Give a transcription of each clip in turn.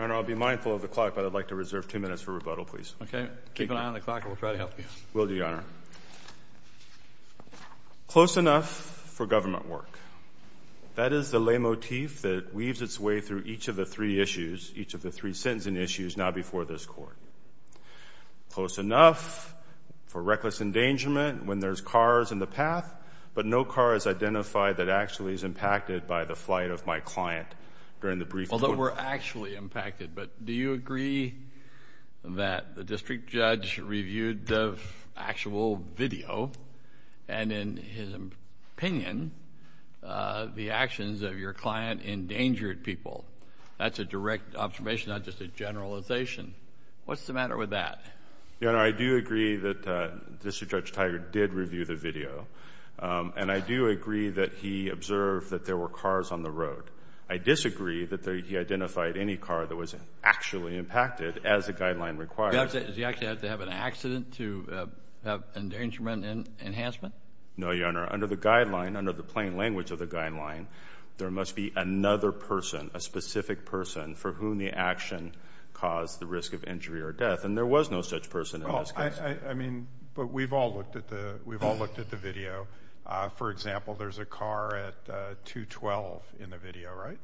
I'll be mindful of the clock, but I'd like to reserve two minutes for rebuttal, please. Okay. Keep an eye on the clock, and we'll try to help you. Will do, Your Honor. Close enough for government work. That is the leitmotif that weaves its way through each of the three issues, each of the three sentencing issues now before this Court. Close enough for reckless endangerment when there's cars in the path, but no car is identified that actually is impacted by the flight of my client during the brief court. Although we're actually impacted, but do you agree that the district judge reviewed the actual video and, in his opinion, the actions of your client endangered people? That's a direct observation, not just a generalization. What's the matter with that? Your Honor, I do agree that District Judge Tiger did review the video, and I do agree that he observed that there were cars on the road. I disagree that he identified any car that was actually impacted, as the guideline requires. Does he actually have to have an accident to have endangerment enhancement? No, Your Honor. Under the guideline, under the plain language of the guideline, there must be another person, a specific person, for whom the action caused the risk of injury or death, and there was no such person in this case. I mean, but we've all looked at the video. For example, there's a car at 212 in the video, right?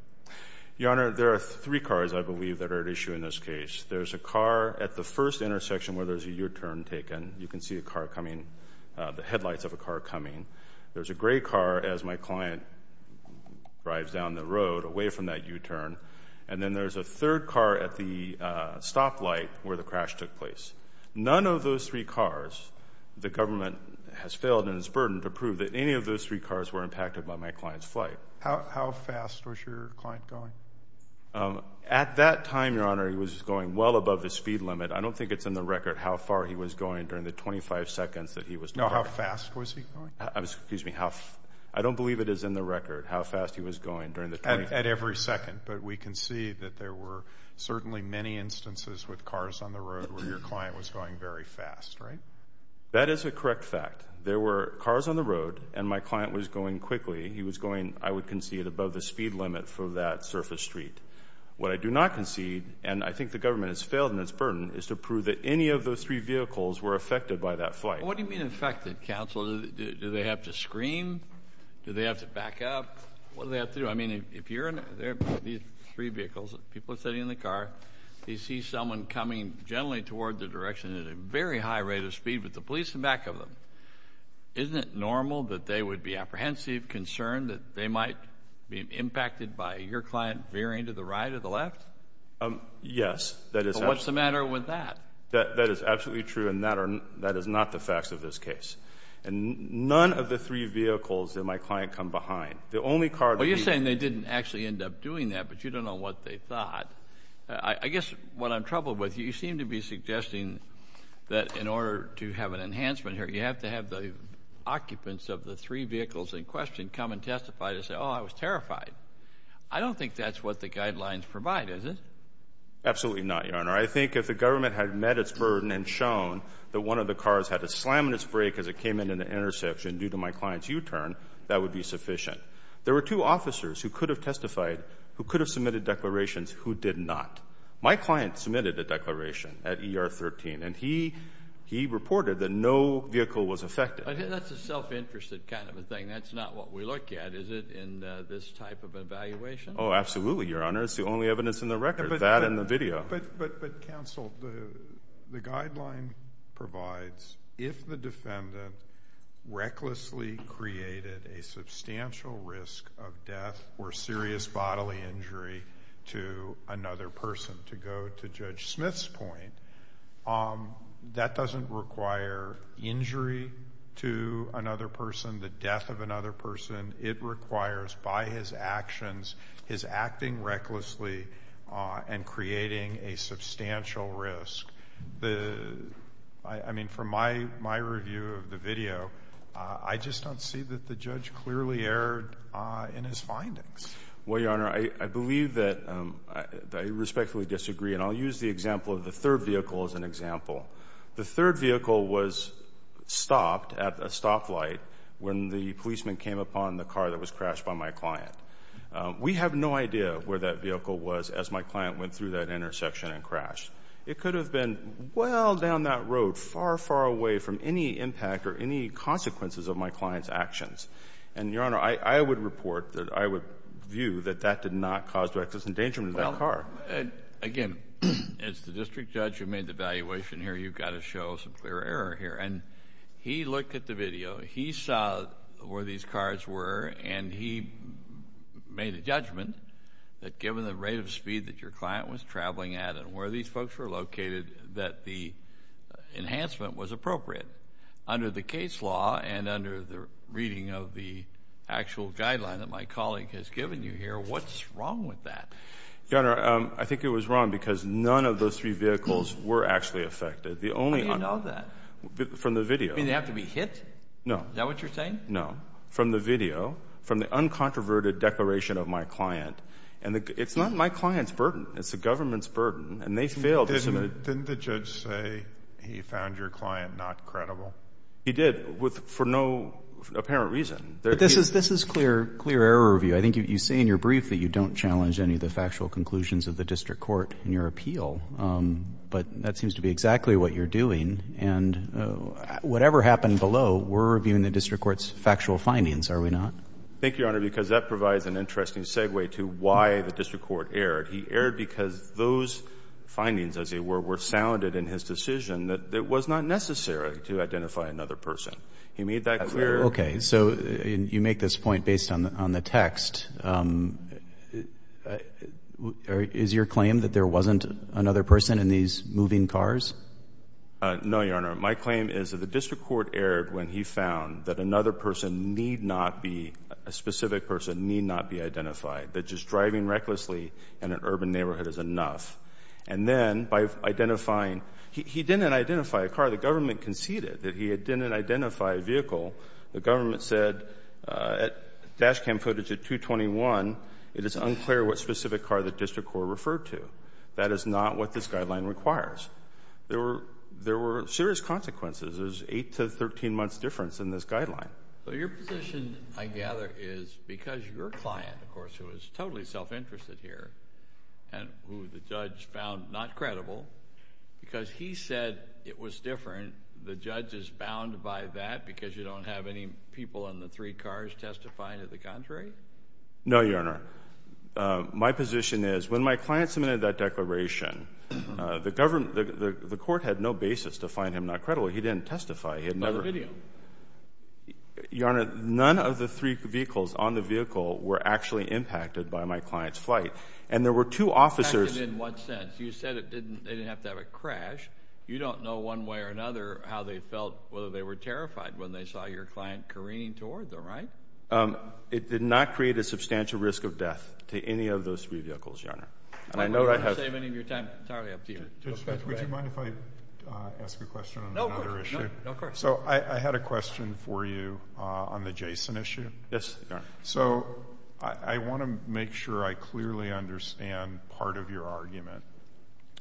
Your Honor, there are three cars, I believe, that are at issue in this case. There's a car at the first intersection where there's a U-turn taken. You can see a car coming, the headlights of a car coming. There's a gray car as my client drives down the road away from that U-turn, and then there's a third car at the stoplight where the crash took place. None of those three cars, the government has failed in its burden to prove that any of those three cars were impacted by my client's flight. How fast was your client going? At that time, Your Honor, he was going well above his speed limit. I don't think it's in the record how far he was going during the 25 seconds that he was driving. No, how fast was he going? Excuse me, I don't believe it is in the record how fast he was going during the 25 seconds. At every second, but we can see that there were certainly many instances with cars on the road where your client was going very fast, right? That is a correct fact. There were cars on the road, and my client was going quickly. He was going, I would concede, above the speed limit for that surface street. What I do not concede, and I think the government has failed in its burden, is to prove that any of those three vehicles were affected by that flight. What do you mean affected, counsel? Do they have to scream? Do they have to back up? What do they have to do? I mean, if you're in there, these three vehicles, people are sitting in the car, you see someone coming gently toward the direction at a very high rate of speed with the police in back of them. Isn't it normal that they would be apprehensive, concerned, that they might be impacted by your client veering to the right or the left? Yes. What's the matter with that? That is absolutely true, and that is not the facts of this case. And none of the three vehicles in my client come behind. The only car to leave. You're saying they didn't actually end up doing that, but you don't know what they thought. I guess what I'm troubled with, you seem to be suggesting that in order to have an enhancement here, you have to have the occupants of the three vehicles in question come and testify to say, oh, I was terrified. I don't think that's what the guidelines provide, is it? Absolutely not, Your Honor. I think if the government had met its burden and shown that one of the cars had a slam in its brake as it came in at an intersection due to my client's U-turn, that would be sufficient. There were two officers who could have testified, who could have submitted declarations, who did not. My client submitted a declaration at ER 13, and he reported that no vehicle was affected. That's a self-interested kind of a thing. That's not what we look at, is it, in this type of evaluation? Oh, absolutely, Your Honor. It's the only evidence in the record, that and the video. But, counsel, the guideline provides if the defendant recklessly created a substantial risk of death or serious bodily injury to another person, to go to Judge Smith's point, that doesn't require injury to another person, the death of another person. It requires, by his actions, his acting recklessly and creating a substantial risk. The — I mean, from my review of the video, I just don't see that the judge clearly erred in his findings. Well, Your Honor, I believe that — I respectfully disagree, and I'll use the example of the third vehicle as an example. The third vehicle was stopped at a stoplight when the policeman came upon the car that was crashed by my client. We have no idea where that vehicle was as my client went through that intersection and crashed. It could have been well down that road, far, far away from any impact or any consequences of my client's actions. And, Your Honor, I would report that — I would view that that did not cause reckless endangerment of that car. Your Honor, again, as the district judge who made the evaluation here, you've got to show some clear error here. And he looked at the video. He saw where these cars were, and he made a judgment that given the rate of speed that your client was traveling at and where these folks were located, that the enhancement was appropriate. Under the case law and under the reading of the actual guideline that my colleague has given you here, what's wrong with that? Your Honor, I think it was wrong because none of those three vehicles were actually affected. The only — How do you know that? From the video. Do they have to be hit? No. Is that what you're saying? No. From the video, from the uncontroverted declaration of my client. And it's not my client's burden. It's the government's burden. And they failed to — Didn't the judge say he found your client not credible? He did, for no apparent reason. But this is clear error review. I think you say in your brief that you don't challenge any of the factual conclusions of the district court in your appeal. But that seems to be exactly what you're doing. And whatever happened below, we're reviewing the district court's factual findings, are we not? Thank you, Your Honor, because that provides an interesting segue to why the district court erred. He erred because those findings, as it were, were sounded in his decision that it was not necessary to identify another person. He made that clear. Okay. So you make this point based on the text. Is your claim that there wasn't another person in these moving cars? No, Your Honor. My claim is that the district court erred when he found that another person need not be — a specific person need not be identified, that just driving recklessly in an urban neighborhood is enough. And then by identifying — he didn't identify a car. The reason why the government conceded that he didn't identify a vehicle, the government said at dash cam footage at 221, it is unclear what specific car the district court referred to. That is not what this guideline requires. There were serious consequences. There's 8 to 13 months difference in this guideline. So your position, I gather, is because your client, of course, who is totally self-interested here and who the judge found not credible, because he said it was different, the judge is bound by that because you don't have any people in the three cars testify to the contrary? No, Your Honor. My position is when my client submitted that declaration, the court had no basis to find him not credible. He didn't testify. He had never — By the video. Your Honor, none of the three vehicles on the vehicle were actually impacted by my client's flight. And there were two officers — Impacted in what sense? You said it didn't — they didn't have to have a crash. You don't know one way or another how they felt, whether they were terrified when they saw your client careening toward them, right? It did not create a substantial risk of death to any of those three vehicles, Your Honor. And I know that has — I'm not going to save any of your time. Entirely up to you. Would you mind if I ask a question on another issue? No, of course. So, I had a question for you on the Jason issue. Yes, Your Honor. So, I want to make sure I clearly understand part of your argument.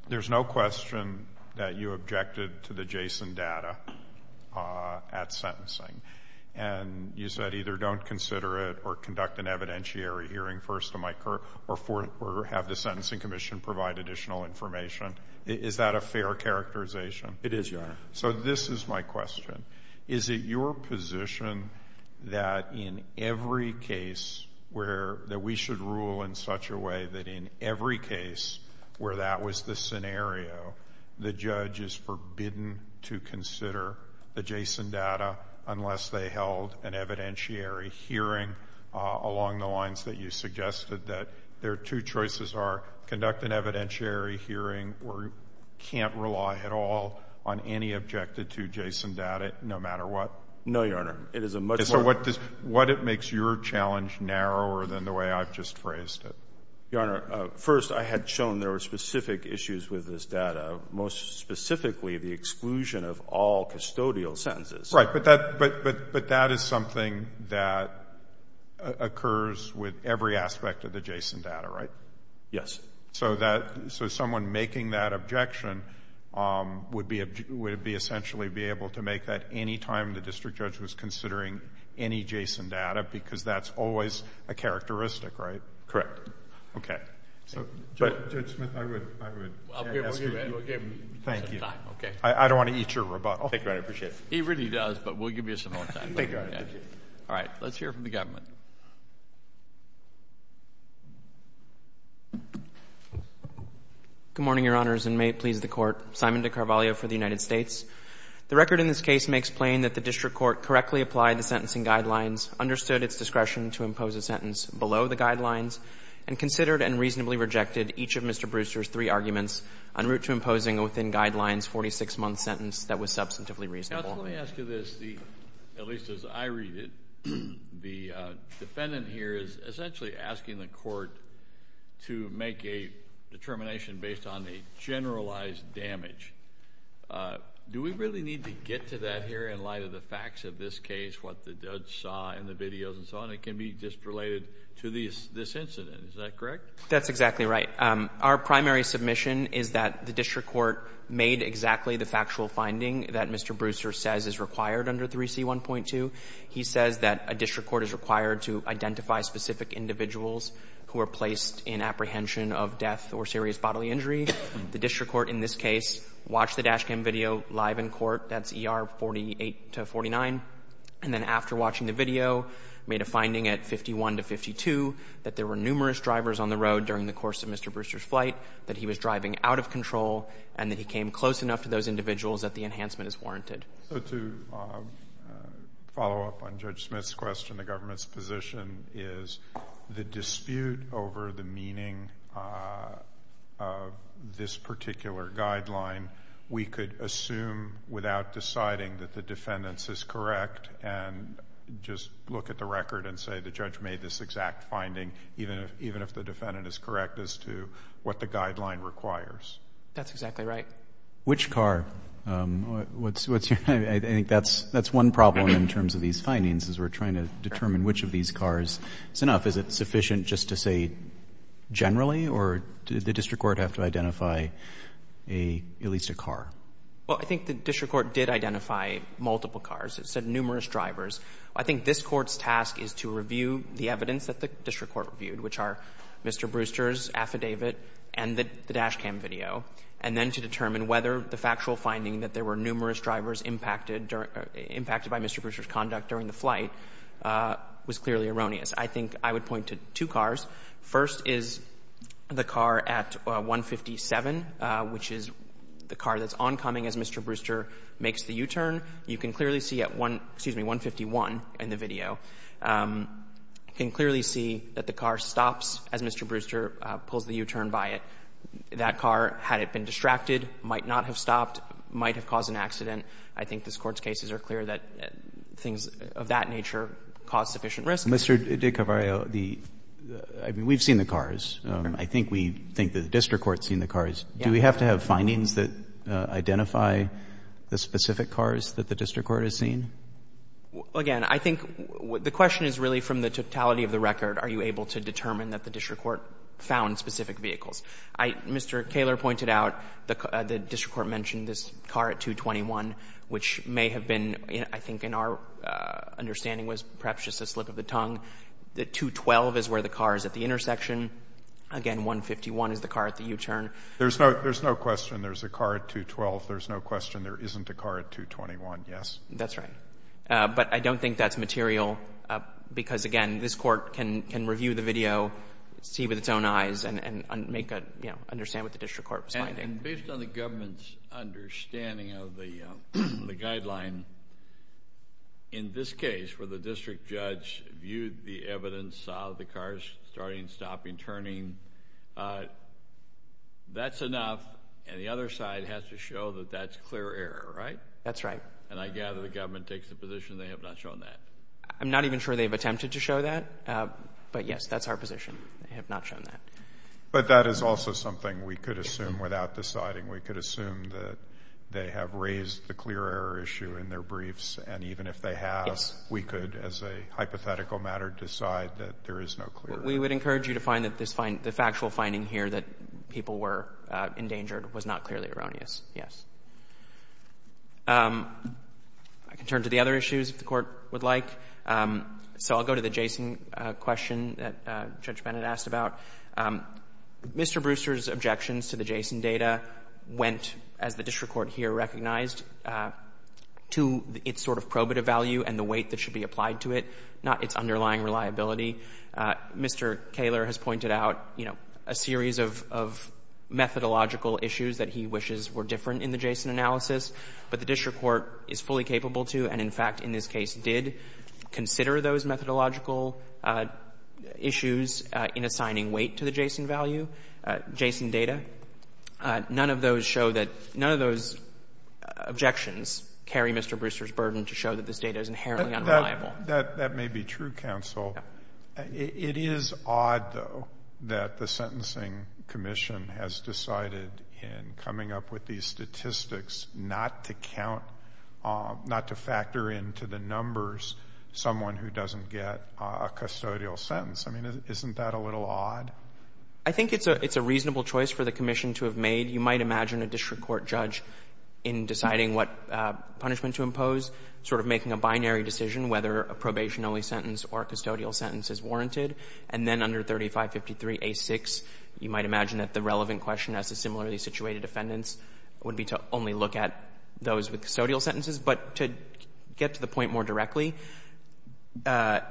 There's no question that you objected to the Jason data at sentencing. And you said either don't consider it or conduct an evidentiary hearing first, or have the Sentencing Commission provide additional information. Is that a fair characterization? It is, Your Honor. So, this is my question. Is it your position that in every case where — that we should rule in such a way that in every case where that was the scenario, the judge is forbidden to consider the Jason data unless they held an evidentiary hearing along the lines that you suggested, that their two choices are conduct an evidentiary hearing or can't rely at all on any objected-to Jason data no matter what? No, Your Honor. It is a much more — So, what makes your challenge narrower than the way I've just phrased it? Your Honor, first, I had shown there were specific issues with this data, most specifically the exclusion of all custodial sentences. Right. But that is something that occurs with every aspect of the Jason data, right? Yes. So, someone making that objection would be essentially be able to make that any time the district judge was considering any Jason data because that's always a characteristic, right? Correct. Okay. Judge Smith, I would. I would. We'll give him some time. Okay. I don't want to eat your rebuttal. Thank you, Your Honor. I appreciate it. He really does, but we'll give you some more time. Thank you, Your Honor. Thank you. All right. Let's hear from the government. Good morning, Your Honors, and may it please the Court. Simon DeCarvalho for the United States. The record in this case makes plain that the district court correctly applied the sentencing guidelines, understood its discretion to impose a sentence below the guidelines, and considered and reasonably rejected each of Mr. Brewster's three arguments en route to imposing within guidelines a 46-month sentence that was substantively reasonable. Counsel, let me ask you this. At least as I read it, the defendant here is essentially asking the court to make a determination based on a generalized damage. Do we really need to get to that here in light of the facts of this case, what the judge saw in the videos and so on? It can be just related to this incident. Is that correct? That's exactly right. Our primary submission is that the district court made exactly the factual finding that Mr. Brewster says is required under 3C1.2. He says that a district court is required to identify specific individuals who are placed in apprehension of death or serious bodily injury. The district court in this case watched the dash cam video live in court. That's ER 48-49. And then after watching the video, made a finding at 51-52 that there were numerous drivers on the road during the course of Mr. Brewster's flight, that he was driving out of control, and that he came close enough to those individuals that the enhancement is warranted. So to follow up on Judge Smith's question, the government's position is the dispute over the meaning of this particular guideline, we could assume without deciding that the defendant's is correct and just look at the record and say the judge made this exact finding even if the defendant is correct as to what the guideline requires. That's exactly right. Which car? I think that's one problem in terms of these findings is we're trying to determine which of these cars is enough. Is it sufficient just to say generally or did the district court have to identify at least a car? Well, I think the district court did identify multiple cars. It said numerous drivers. I think this Court's task is to review the evidence that the district court reviewed, which are Mr. Brewster's affidavit and the dash cam video, and then to determine whether the factual finding that there were numerous drivers impacted by Mr. Brewster's conduct during the flight was clearly erroneous. I think I would point to two cars. First is the car at 157, which is the car that's oncoming as Mr. Brewster makes the U-turn. You can clearly see at 151 in the video, you can clearly see that the car stops as Mr. Brewster pulls the U-turn by it. That car, had it been distracted, might not have stopped, might have caused an accident. I think this Court's cases are clear that things of that nature cause sufficient risk. Mr. DiCavario, the — I mean, we've seen the cars. I think we think the district court's seen the cars. Do we have to have findings that identify the specific cars that the district court has seen? Well, again, I think the question is really from the totality of the record, are you able to determine that the district court found specific vehicles? I — Mr. Kaler pointed out the district court mentioned this car at 221, which may have been, I think in our understanding was perhaps just a slip of the tongue. The 212 is where the car is at the intersection. Again, 151 is the car at the U-turn. There's no question there's a car at 212. There's no question there isn't a car at 221, yes. That's right. But I don't think that's material because, again, this Court can review the video, see with its own eyes, and make a — you know, understand what the district court was finding. And based on the government's understanding of the guideline, in this case, where the district judge viewed the evidence, saw the cars starting, stopping, turning, that's enough. And the other side has to show that that's clear error, right? That's right. And I gather the government takes the position they have not shown that. I'm not even sure they've attempted to show that. But, yes, that's our position. They have not shown that. But that is also something we could assume without deciding. We could assume that they have raised the clear error issue in their briefs, and even if they have, we could as a hypothetical matter decide that there is no clear error. We would encourage you to find that this — the factual finding here that people were endangered was not clearly erroneous, yes. I can turn to the other issues, if the Court would like. So I'll go to the Jason question that Judge Bennett asked about. Mr. Brewster's objections to the Jason data went, as the district court here recognized, to its sort of probative value and the weight that should be applied to it, not its underlying reliability. Mr. Kaler has pointed out, you know, a series of methodological issues that he wishes were different in the Jason analysis, but the district court is fully capable to and, in fact, in this case did consider those methodological issues in assigning weight to the Jason value, Jason data. None of those show that — none of those objections carry Mr. Brewster's burden to show that this data is inherently unreliable. That may be true, counsel. It is odd, though, that the Sentencing Commission has decided in coming up with these statistics not to count — not to factor into the numbers someone who doesn't get a custodial sentence. I mean, isn't that a little odd? I think it's a reasonable choice for the commission to have made. You might imagine a district court judge in deciding what punishment to impose sort of making a binary decision whether a probation-only sentence or a custodial sentence is warranted. And then under 3553a6, you might imagine that the relevant question as to similarly situated defendants would be to only look at those with custodial sentences. But to get to the point more directly, Mr.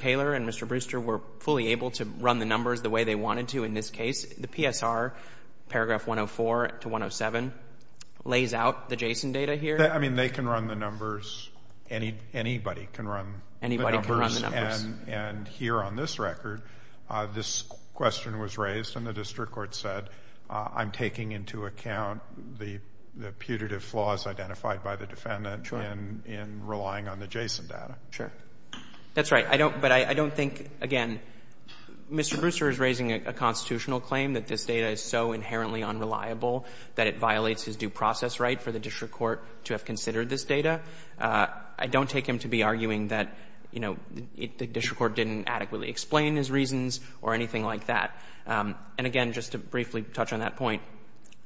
Kaler and Mr. Brewster were fully able to run the numbers the way they wanted to in this case. The PSR, paragraph 104 to 107, lays out the Jason data here. I mean, they can run the numbers. Anybody can run the numbers. Anybody can run the numbers. And here on this record, this question was raised and the district court said, I'm taking into account the putative flaws identified by the defendant in relying on the Jason data. Sure. That's right. But I don't think, again, Mr. Brewster is raising a constitutional claim that this data is so inherently unreliable that it violates his due process right for the district court to have considered this data. I don't take him to be arguing that, you know, the district court didn't adequately explain his reasons or anything like that. And again, just to briefly touch on that point,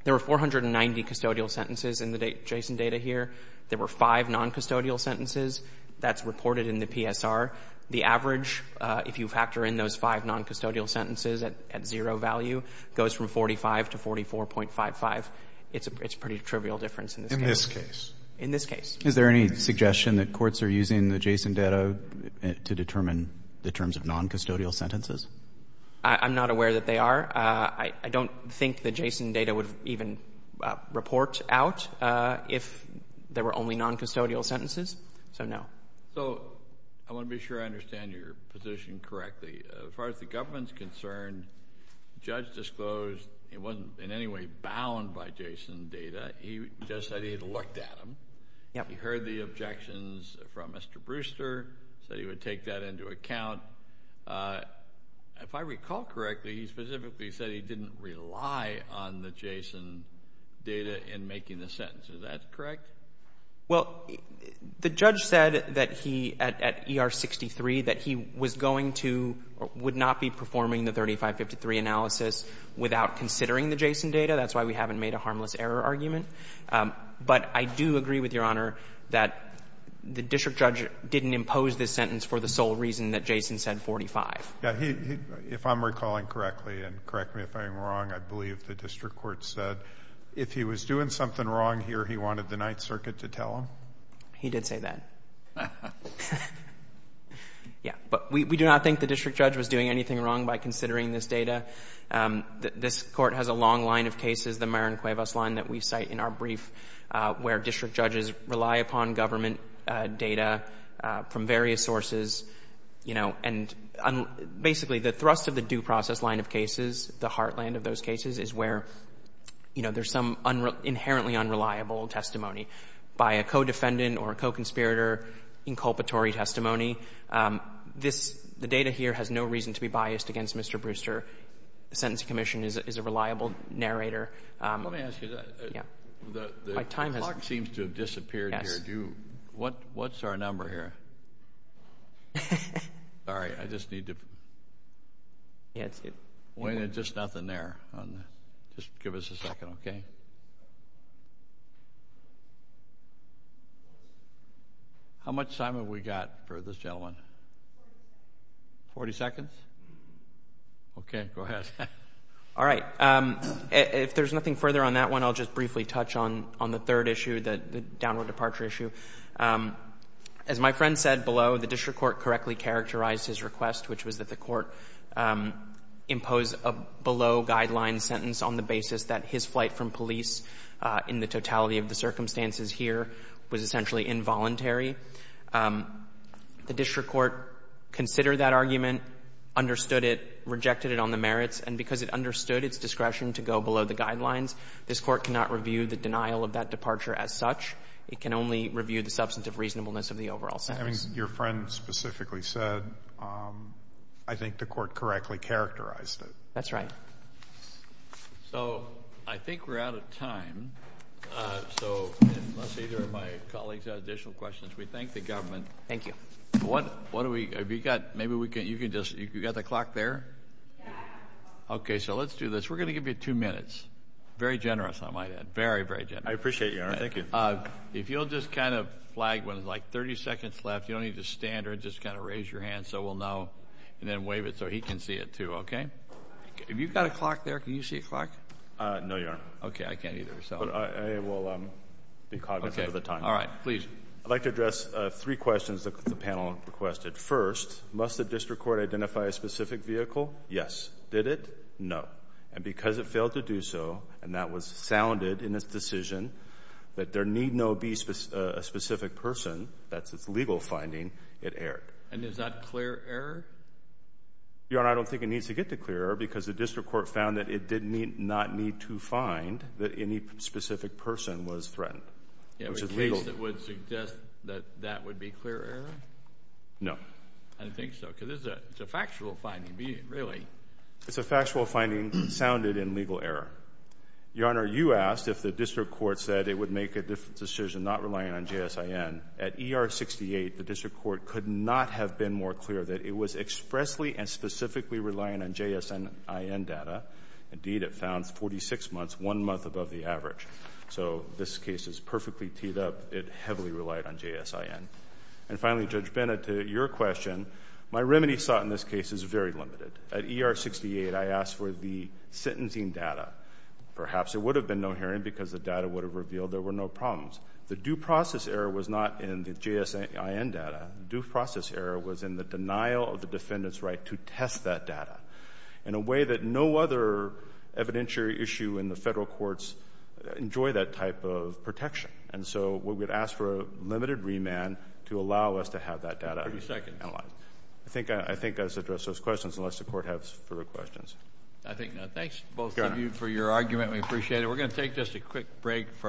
there were 490 custodial sentences in the Jason data here. There were five noncustodial sentences. That's reported in the PSR. The average, if you factor in those five noncustodial sentences at zero value, goes from 45 to 44.55. It's a pretty trivial difference in this case. In this case. In this case. Is there any suggestion that courts are using the Jason data to determine the terms of noncustodial sentences? I'm not aware that they are. I don't think the Jason data would even report out if there were only noncustodial sentences, so no. So, I want to be sure I understand your position correctly. As far as the government is concerned, the judge disclosed he wasn't in any way bound by Jason data. The judge said he had looked at them. He heard the objections from Mr. Brewster, said he would take that into account. If I recall correctly, he specifically said he didn't rely on the Jason data in making the sentence. Is that correct? Well, the judge said that he, at ER-63, that he was going to or would not be performing the 3553 analysis without considering the Jason data. That's why we haven't made a harmless error argument. But I do agree with Your Honor that the district judge didn't impose this sentence for the sole reason that Jason said 45. If I'm recalling correctly, and correct me if I'm wrong, I believe the district court said if he was doing something wrong here, he wanted the Ninth Circuit to tell him? He did say that. Yeah. But we do not think the district judge was doing anything wrong by considering this data. This Court has a long line of cases, the Marin Cuevas line that we cite in our brief, where district judges rely upon government data from various sources, you know, and basically the thrust of the due process line of cases, the heartland of those cases, is where, you know, there's some inherently unreliable testimony by a co-defendant or a co-conspirator, inculpatory testimony. This, the data here has no reason to be biased against Mr. Brewster. The Sentencing Commission is a reliable narrator. Let me ask you that. Yeah. The clock seems to have disappeared here. Yes. What's our number here? Sorry. I just need to. Yeah. Wayne, there's just nothing there. Just give us a second. Okay. How much time have we got for this gentleman? Forty seconds? Okay. Go ahead. All right. If there's nothing further on that one, I'll just briefly touch on the third issue, the downward departure issue. As my friend said below, the district court correctly characterized his request, which was that the court impose a below-guideline sentence on the basis that his flight from police, in the totality of the circumstances here, was essentially involuntary. The district court considered that argument, understood it, rejected it on the merits, and because it understood its discretion to go below the guidelines, this court cannot review the denial of that departure as such. It can only review the substantive reasonableness of the overall sentence. I mean, your friend specifically said, I think the court correctly characterized it. That's right. So I think we're out of time. So unless either of my colleagues have additional questions, we thank the government. Thank you. What do we, have you got, maybe you can just, you got the clock there? Yeah. Okay. So let's do this. We're going to give you two minutes. Very generous, I might add. Very, very generous. I appreciate you, Your Honor. Thank you. If you'll just kind of flag when there's like 30 seconds left, you don't need to stand or just kind of raise your hand so we'll know, and then wave it so he can see it, too. Okay? Have you got a clock there? Can you see a clock? No, Your Honor. Okay. I can't either, so. But I will be cognizant of the time. All right. Please. I'd like to address three questions that the panel requested. First, must the district court identify a specific vehicle? Yes. Did it? No. And because it failed to do so, and that was sounded in its decision, that there need no be a specific person, that's its legal finding, it erred. And is that clear error? Your Honor, I don't think it needs to get to clear error because the district court found that it did not need to find that any specific person was threatened, which is legal. In case it would suggest that that would be clear error? No. I don't think so, because it's a factual finding, really. It's a factual finding sounded in legal error. Your Honor, you asked if the district court said it would make a decision not relying on JSIN. At ER 68, the district court could not have been more clear that it was expressly and specifically relying on JSIN data. Indeed, it found 46 months, one month above the average. So, this case is perfectly teed up. It heavily relied on JSIN. And finally, Judge Bennett, to your question, my remedy sought in this case is very limited. At ER 68, I asked for the sentencing data. Perhaps there would have been no hearing because the data would have revealed there were no problems. The due process error was not in the JSIN data. The due process error was in the denial of the defendant's right to test that data in a way that no other evidentiary issue in the Federal courts enjoy that type of protection. And so, we would ask for a limited remand to allow us to have that data analyzed. I think that's addressed those questions, unless the court has further questions. I think not. Thanks, both of you, for your argument. We appreciate it. We're going to take just a quick break for the